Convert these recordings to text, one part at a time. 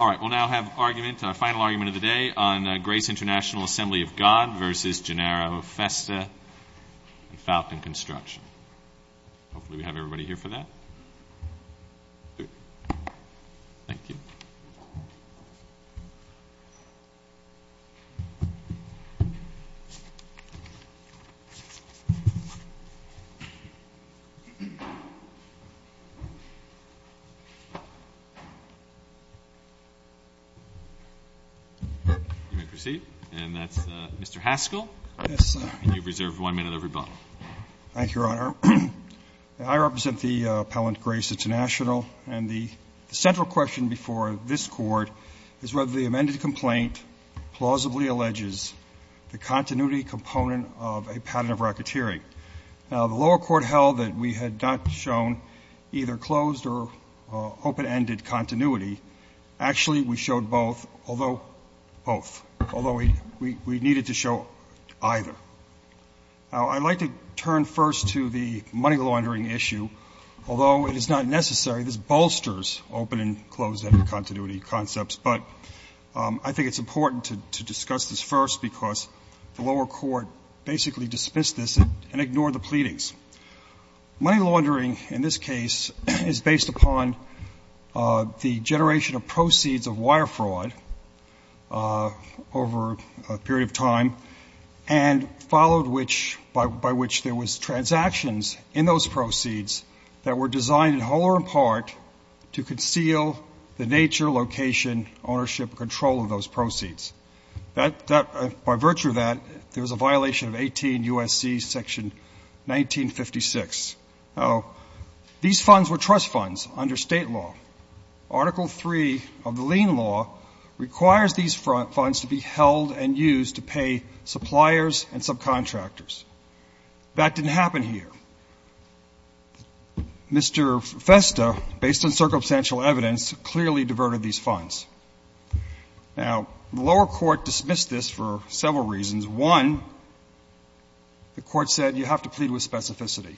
All right, we'll now have a final argument of the day on Grace International Assembly of God versus Gennaro Festa and Falcon Construction. Hopefully we have everybody here for that. Thank you. You may proceed. And that's Mr. Haskell. Yes, sir. And you've reserved one minute of rebuttal. Thank you, Your Honor. I represent the appellant, Grace International, and the central question before this court is whether the amended complaint plausibly alleges the continuity component of a pattern of racketeering. The lower court held that we had not shown either closed or open-ended continuity Actually, we showed both, although both. Although we needed to show either. I'd like to turn first to the money laundering issue. Although it is not necessary, this bolsters open and closed-ended continuity concepts. But I think it's important to discuss this first because the lower court basically dismissed this and ignored the pleadings. Money laundering, in this case, is based upon the generation of proceeds of wire fraud over a period of time and followed by which there was transactions in those proceeds that were designed in whole or in part to conceal the nature, location, ownership, and control of those proceeds. By virtue of that, there was a violation of 18 U.S.C. section 1956. Now, these funds were trust funds under State law. Article III of the lien law requires these funds to be held and used to pay suppliers and subcontractors. That didn't happen here. Mr. Festa, based on circumstantial evidence, clearly diverted these funds. Now, the lower court dismissed this for several reasons. One, the court said you have to plead with specificity.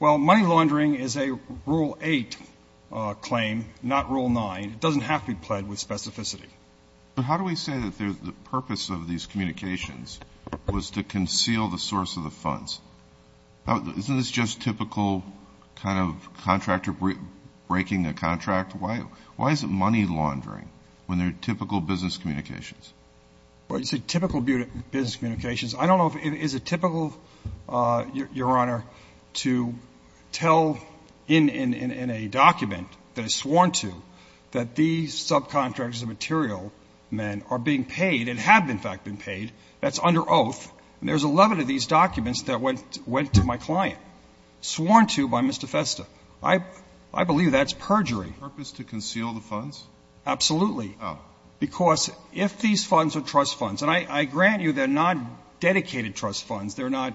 Well, money laundering is a Rule 8 claim, not Rule 9. It doesn't have to be pled with specificity. But how do we say that the purpose of these communications was to conceal the source of the funds? Isn't this just typical kind of contractor breaking a contract? Why is it money laundering when they're typical business communications? Well, you say typical business communications. I don't know if it is typical, Your Honor, to tell in a document that is sworn to that these subcontractors and material men are being paid and have, in fact, been paid. That's under oath. And there's 11 of these documents that went to my client, sworn to by Mr. Festa. I believe that's perjury. Purpose to conceal the funds? Absolutely. Oh. Because if these funds are trust funds, and I grant you they're not dedicated trust funds, they're not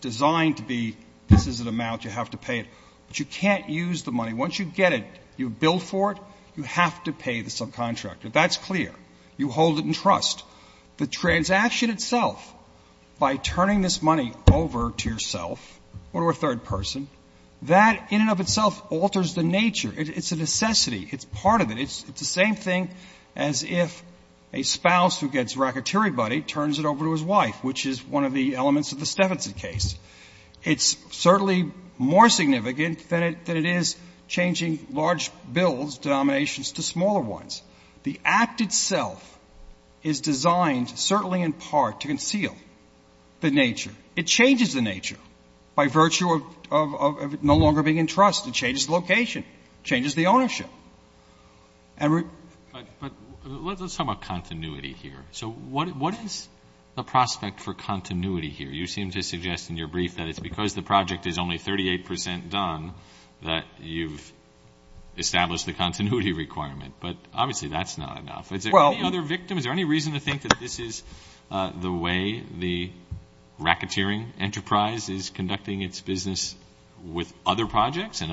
designed to be this is an amount, you have to pay it, but you can't use the money. Once you get it, you bill for it, you have to pay the subcontractor. That's clear. You hold it in trust. The transaction itself, by turning this money over to yourself or to a third person, that in and of itself alters the nature. It's a necessity. It's part of it. It's the same thing as if a spouse who gets racketeering money turns it over to his wife, which is one of the elements of the Steffensen case. It's certainly more significant than it is changing large bills, denominations to smaller ones. The act itself is designed certainly in part to conceal the nature. It changes the nature by virtue of no longer being in trust. It changes the location. It changes the ownership. Edward? Let's talk about continuity here. What is the prospect for continuity here? You seem to suggest in your brief that it's because the project is only 38 percent done that you've established the continuity requirement, but obviously that's not enough. Is there any other victim? Is there any reason to think that this is the way the racketeering enterprise is conducting its business with other projects and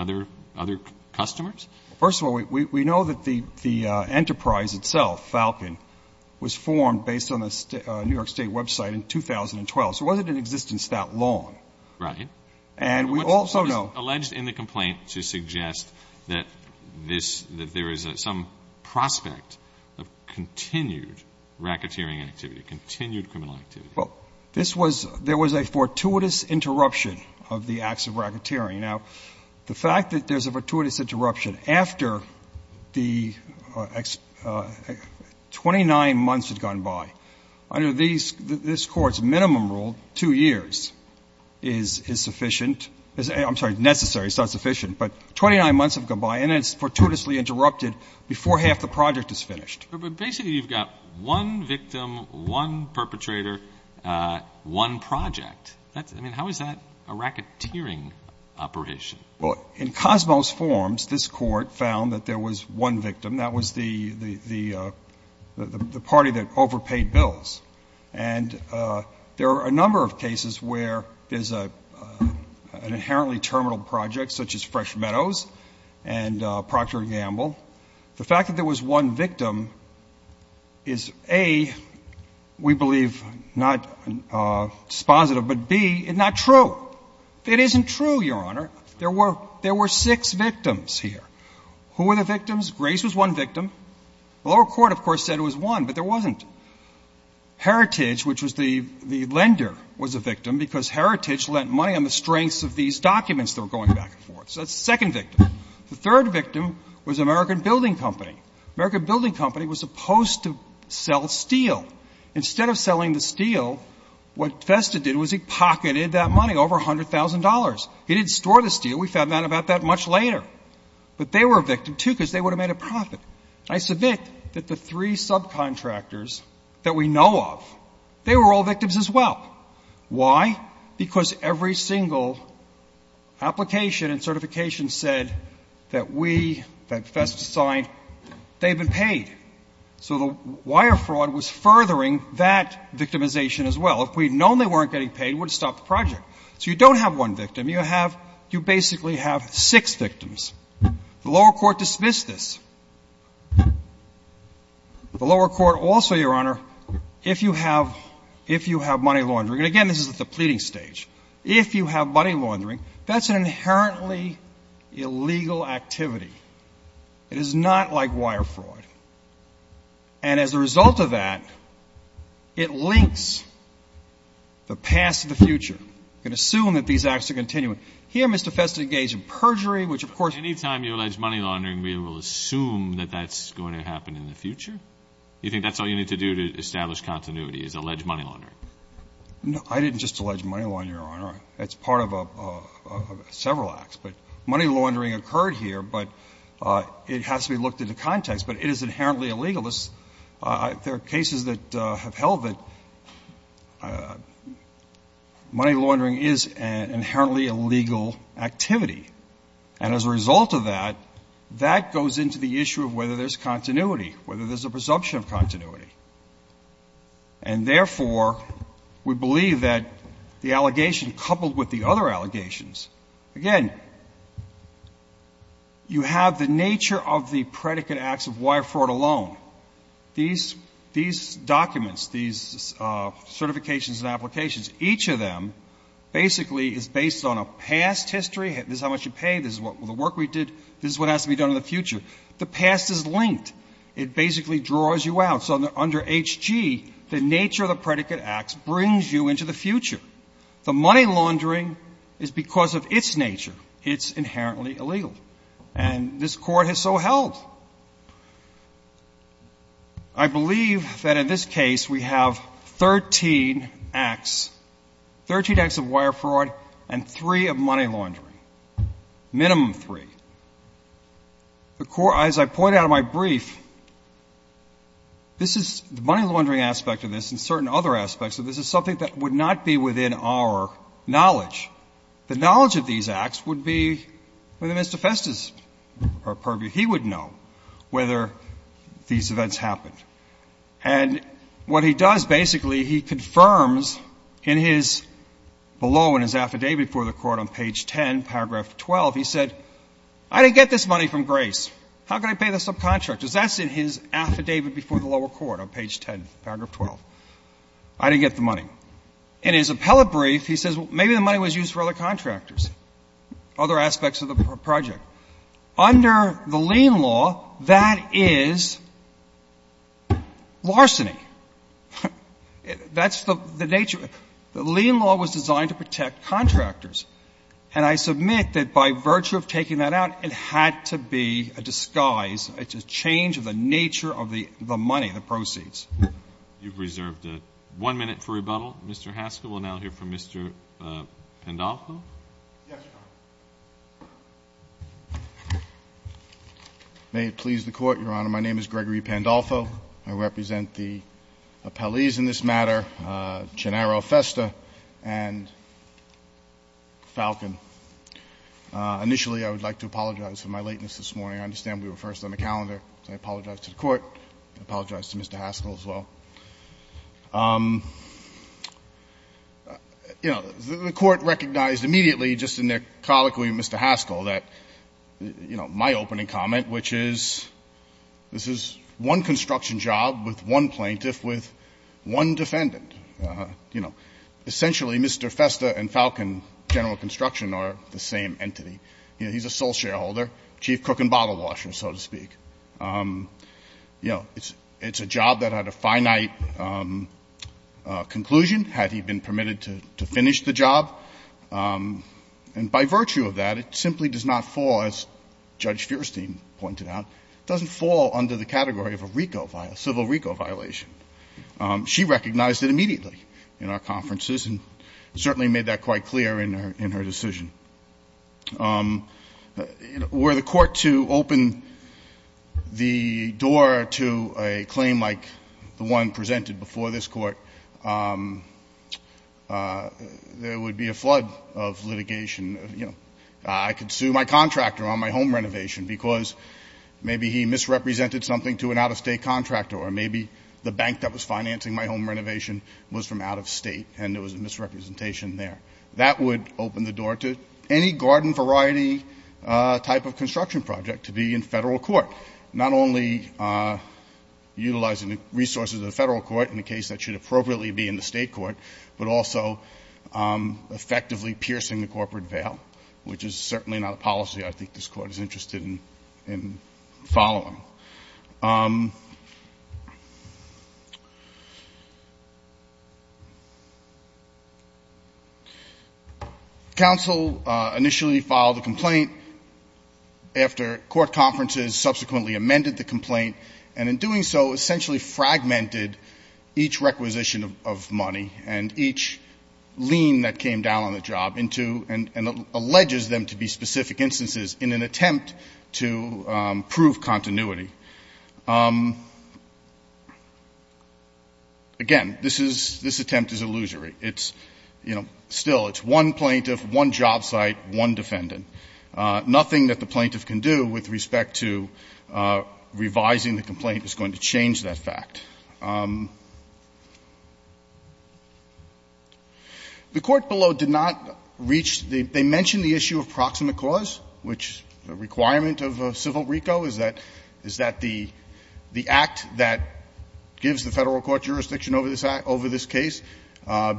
other customers? First of all, we know that the enterprise itself, Falcon, was formed based on a New York State website in 2012. So it wasn't in existence that long. Right. And we also know — What is alleged in the complaint to suggest that this — that there is some prospect of continued racketeering activity, continued criminal activity? Well, this was — there was a fortuitous interruption of the acts of racketeering. Now, the fact that there's a fortuitous interruption after the 29 months had gone by, under these — this Court's minimum rule, 2 years, is sufficient — I'm sorry, necessary. It's not sufficient. But 29 months have gone by, and it's fortuitously interrupted before half the project is finished. But basically you've got one victim, one perpetrator, one project. That's — I mean, how is that a racketeering operation? Well, in Cosmo's forms, this Court found that there was one victim. That was the party that overpaid bills. And there are a number of cases where there's an inherently terminal project, such as The fact that there was one victim is, A, we believe not dispositive, but, B, not true. It isn't true, Your Honor. There were — there were six victims here. Who were the victims? Grace was one victim. The lower court, of course, said it was one, but there wasn't. Heritage, which was the — the lender, was a victim because Heritage lent money on the strengths of these documents that were going back and forth. So that's the second victim. The third victim was American Building Company. American Building Company was supposed to sell steel. Instead of selling the steel, what Vesta did was he pocketed that money, over $100,000. He didn't store the steel. We found out about that much later. But they were a victim, too, because they would have made a profit. I submit that the three subcontractors that we know of, they were all victims as well. Why? Because every single application and certification said that we, that Vesta signed, they've been paid. So the wire fraud was furthering that victimization as well. If we had known they weren't getting paid, we would have stopped the project. So you don't have one victim. You have — you basically have six victims. The lower court dismissed this. The lower court also, Your Honor, if you have — if you have money laundering — and, again, this is at the pleading stage — if you have money laundering, that's an inherently illegal activity. It is not like wire fraud. And as a result of that, it links the past to the future. You can assume that these acts are continuing. Here, Mr. Vesta engaged in perjury, which, of course — Any time you allege money laundering, we will assume that that's going to happen in the future? You think that's all you need to do to establish continuity is allege money laundering? No. I didn't just allege money laundering, Your Honor. It's part of several acts. But money laundering occurred here, but it has to be looked into context. But it is inherently illegal. There are cases that have held that money laundering is an inherently illegal activity. And as a result of that, that goes into the issue of whether there's continuity, whether there's a presumption of continuity. And, therefore, we believe that the allegation coupled with the other allegations — again, you have the nature of the predicate acts of wire fraud alone. These documents, these certifications and applications, each of them basically is based on a past history. This is how much you pay. This is the work we did. This is what has to be done in the future. The past is linked. It basically draws you out. So under H.G., the nature of the predicate acts brings you into the future. The money laundering is because of its nature. It's inherently illegal. And this Court has so held. I believe that in this case we have 13 acts, 13 acts of wire fraud and three of money laundering, minimum three. The Court, as I point out in my brief, this is — the money laundering aspect of this and certain other aspects of this is something that would not be within our knowledge. The knowledge of these acts would be within Mr. Festa's purview. He would know whether these events happened. And what he does, basically, he confirms in his — below in his affidavit for the lower court on page 10, paragraph 12, he said, I didn't get this money from Grace. How could I pay the subcontractors? That's in his affidavit before the lower court on page 10, paragraph 12. I didn't get the money. In his appellate brief, he says maybe the money was used for other contractors, other aspects of the project. Under the lien law, that is larceny. That's the nature — the lien law was designed to protect contractors. And I submit that by virtue of taking that out, it had to be a disguise, a change of the nature of the money, the proceeds. You've reserved one minute for rebuttal. Mr. Haskell, we'll now hear from Mr. Pandolfo. Yes, Your Honor. May it please the Court, Your Honor. My name is Gregory Pandolfo. I represent the appellees in this matter, Gennaro Festa and Falcon. Initially, I would like to apologize for my lateness this morning. I understand we were first on the calendar. I apologize to the Court. I apologize to Mr. Haskell as well. You know, the Court recognized immediately just in their colloquy with Mr. Haskell that, you know, my opening comment, which is this is one construction job with one plaintiff, with one defendant. You know, essentially, Mr. Festa and Falcon, general construction, are the same entity. You know, he's a sole shareholder, chief cook and bottle washer, so to speak. You know, it's a job that had a finite conclusion had he been permitted to finish the job. And by virtue of that, it simply does not fall, as Judge Feuerstein pointed out, doesn't fall under the category of a RICO, a civil RICO violation. She recognized it immediately in our conferences and certainly made that quite clear in her decision. Were the Court to open the door to a claim like the one presented before this Court, there would be a flood of litigation. You know, I could sue my contractor on my home renovation because maybe he misrepresented something to an out-of-state contractor or maybe the bank that was financing my home renovation was from out-of-state and there was a misrepresentation there. That would open the door to any garden variety type of construction project to be in federal court, not only utilizing the resources of the federal court in the case that should appropriately be in the state court, but also effectively piercing the corporate veil, which is certainly not a policy I think this Court is interested in following. Counsel initially filed a complaint after court conferences subsequently amended the complaint and in doing so essentially fragmented each requisition of money and each lien that came down on the job into and alleges them to be specific instances in an attempt to prove continuity. Again, this is, this attempt is illusory. It's, you know, still it's one plaintiff, one job site, one defendant. Nothing that the plaintiff can do with respect to revising the complaint is going to change that fact. The Court below did not reach the, they mentioned the issue of proximate cause, which the requirement of civil RICO is that the act that gives the federal court jurisdiction over this act, over this case,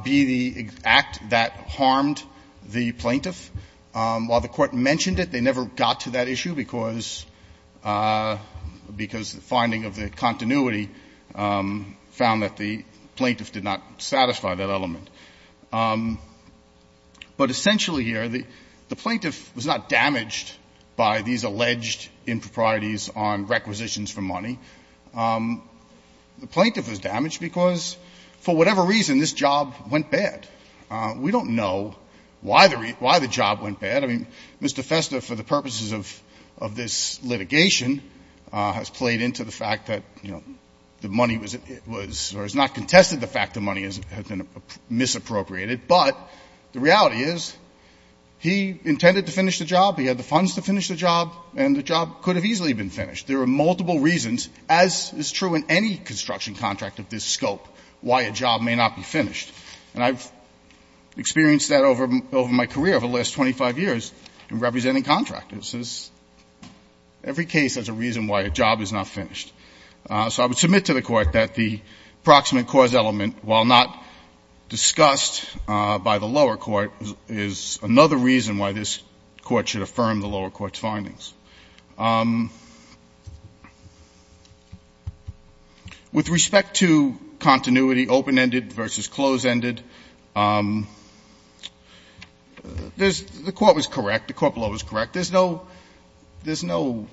be the act that harmed the plaintiff. While the Court mentioned it, they never got to that issue because the finding of the continuity found that the plaintiff did not satisfy that element. But essentially here, the plaintiff was not damaged by these alleged improprieties on requisitions for money. The plaintiff was damaged because, for whatever reason, this job went bad. We don't know why the job went bad. I mean, Mr. Festa, for the purposes of this litigation, has played into the fact that, you know, the money was, or has not contested the fact the money has been misappropriated, but the reality is he intended to finish the job. He had the funds to finish the job, and the job could have easily been finished. There are multiple reasons, as is true in any construction contract of this scope, why a job may not be finished. And I've experienced that over my career over the last 25 years in representing contractors. Every case has a reason why a job is not finished. So I would submit to the Court that the proximate cause element, while not discussed by the lower court, is another reason why this Court should affirm the lower court's findings. With respect to continuity, open-ended versus close-ended, there's the Court was correct. The Court below is correct. There's no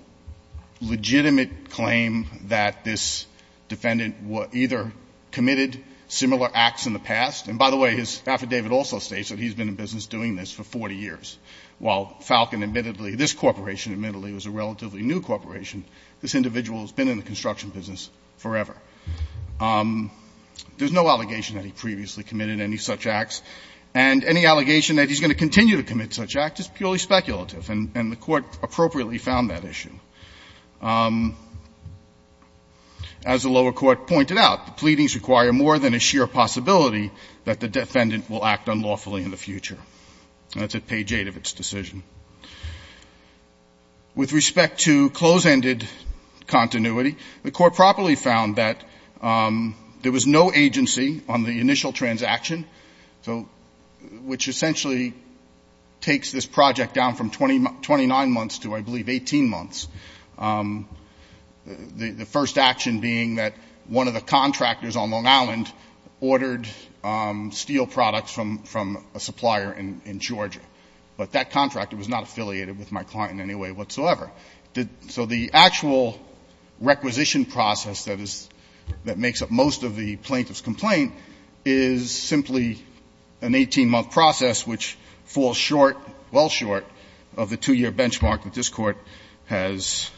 legitimate claim that this defendant either committed similar acts in the past. And, by the way, his affidavit also states that he's been in business doing this for 40 years. While Falcon admittedly, this corporation admittedly was a relatively new corporation, this individual has been in the construction business forever. There's no allegation that he previously committed any such acts. And any allegation that he's going to continue to commit such acts is purely speculative. And the Court appropriately found that issue. As the lower court pointed out, the pleadings require more than a sheer possibility that the defendant will act unlawfully in the future. And that's at page 8 of its decision. With respect to close-ended continuity, the Court properly found that there was no agency on the initial transaction, which essentially takes this project down from 29 months to, I believe, 18 months. The first action being that one of the contractors on Long Island ordered steel products from a supplier in Georgia. But that contractor was not affiliated with my client in any way whatsoever. So the actual requisition process that makes up most of the plaintiff's complaint is simply an 18-month process, which falls short, well short, of the 2-year benchmark that this Court has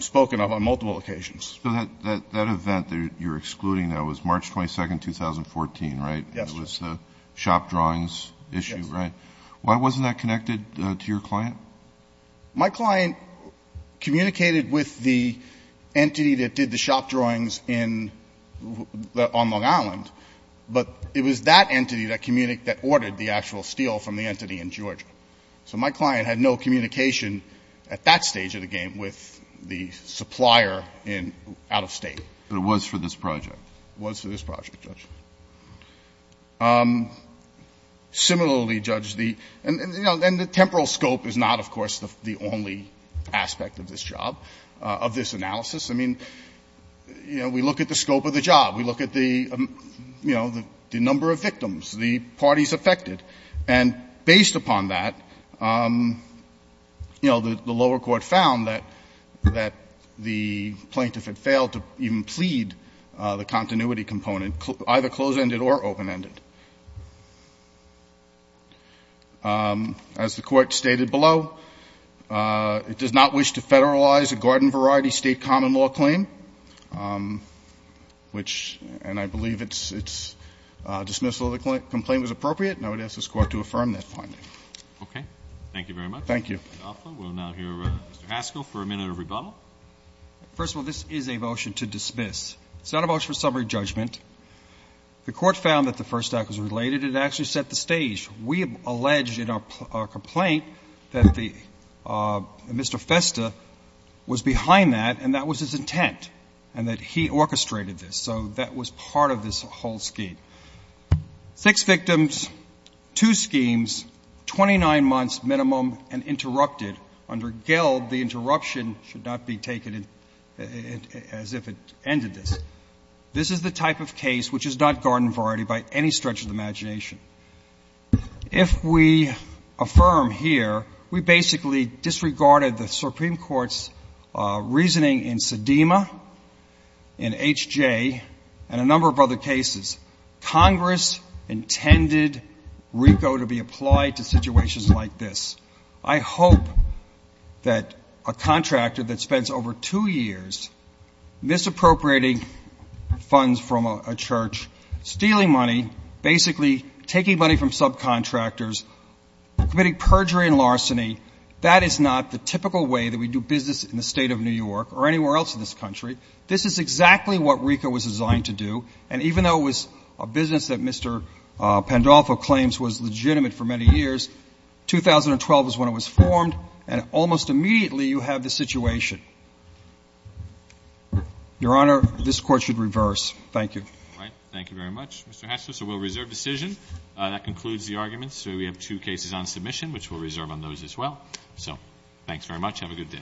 spoken of on multiple occasions. So that event that you're excluding now was March 22, 2014, right? Yes. It was the shop drawings issue, right? Yes. Why wasn't that connected to your client? My client communicated with the entity that did the shop drawings on Long Island, but it was that entity that ordered the actual steel from the entity in Georgia. So my client had no communication at that stage of the game with the supplier out of State. But it was for this project. It was for this project, Judge. Similarly, Judge, the – and, you know, the temporal scope is not, of course, the only aspect of this job, of this analysis. I mean, you know, we look at the scope of the job. We look at the, you know, the number of victims, the parties affected. And based upon that, you know, the lower court found that the plaintiff had failed to even plead the continuity component, either closed-ended or open-ended. As the Court stated below, it does not wish to federalize a garden-variety State common law claim, which – and I believe its dismissal of the complaint was appropriate, and I would ask this Court to affirm that finding. Okay. Thank you very much. Thank you. We'll now hear Mr. Haskell for a minute of rebuttal. First of all, this is a motion to dismiss. It's not a motion for summary judgment. The Court found that the first act was related. It actually set the stage. We have alleged in our complaint that the – Mr. Festa was behind that, and that was his intent, and that he orchestrated this. So that was part of this whole scheme. Six victims, two schemes, 29 months minimum and interrupted. Under Gelb, the interruption should not be taken as if it ended this. This is the type of case which is not garden-variety by any stretch of the imagination. If we affirm here, we basically disregarded the Supreme Court's reasoning in Sedema, in H.J., and a number of other cases. Congress intended RICO to be applied to situations like this. I hope that a contractor that spends over two years misappropriating funds from a church, stealing money, basically taking money from subcontractors, committing perjury and larceny, that is not the typical way that we do business in the State of New York or anywhere else in this country. This is exactly what RICO was designed to do, and even though it was a business that Mr. Pandolfo claims was legitimate for many years, 2012 was when it was formed, and almost immediately you have this situation. Your Honor, this Court should reverse. Thank you. Roberts. Thank you very much, Mr. Hatchell. So we'll reserve decision. That concludes the arguments. We have two cases on submission, which we'll reserve on those as well. So thanks very much. Have a good day. Court is adjourned.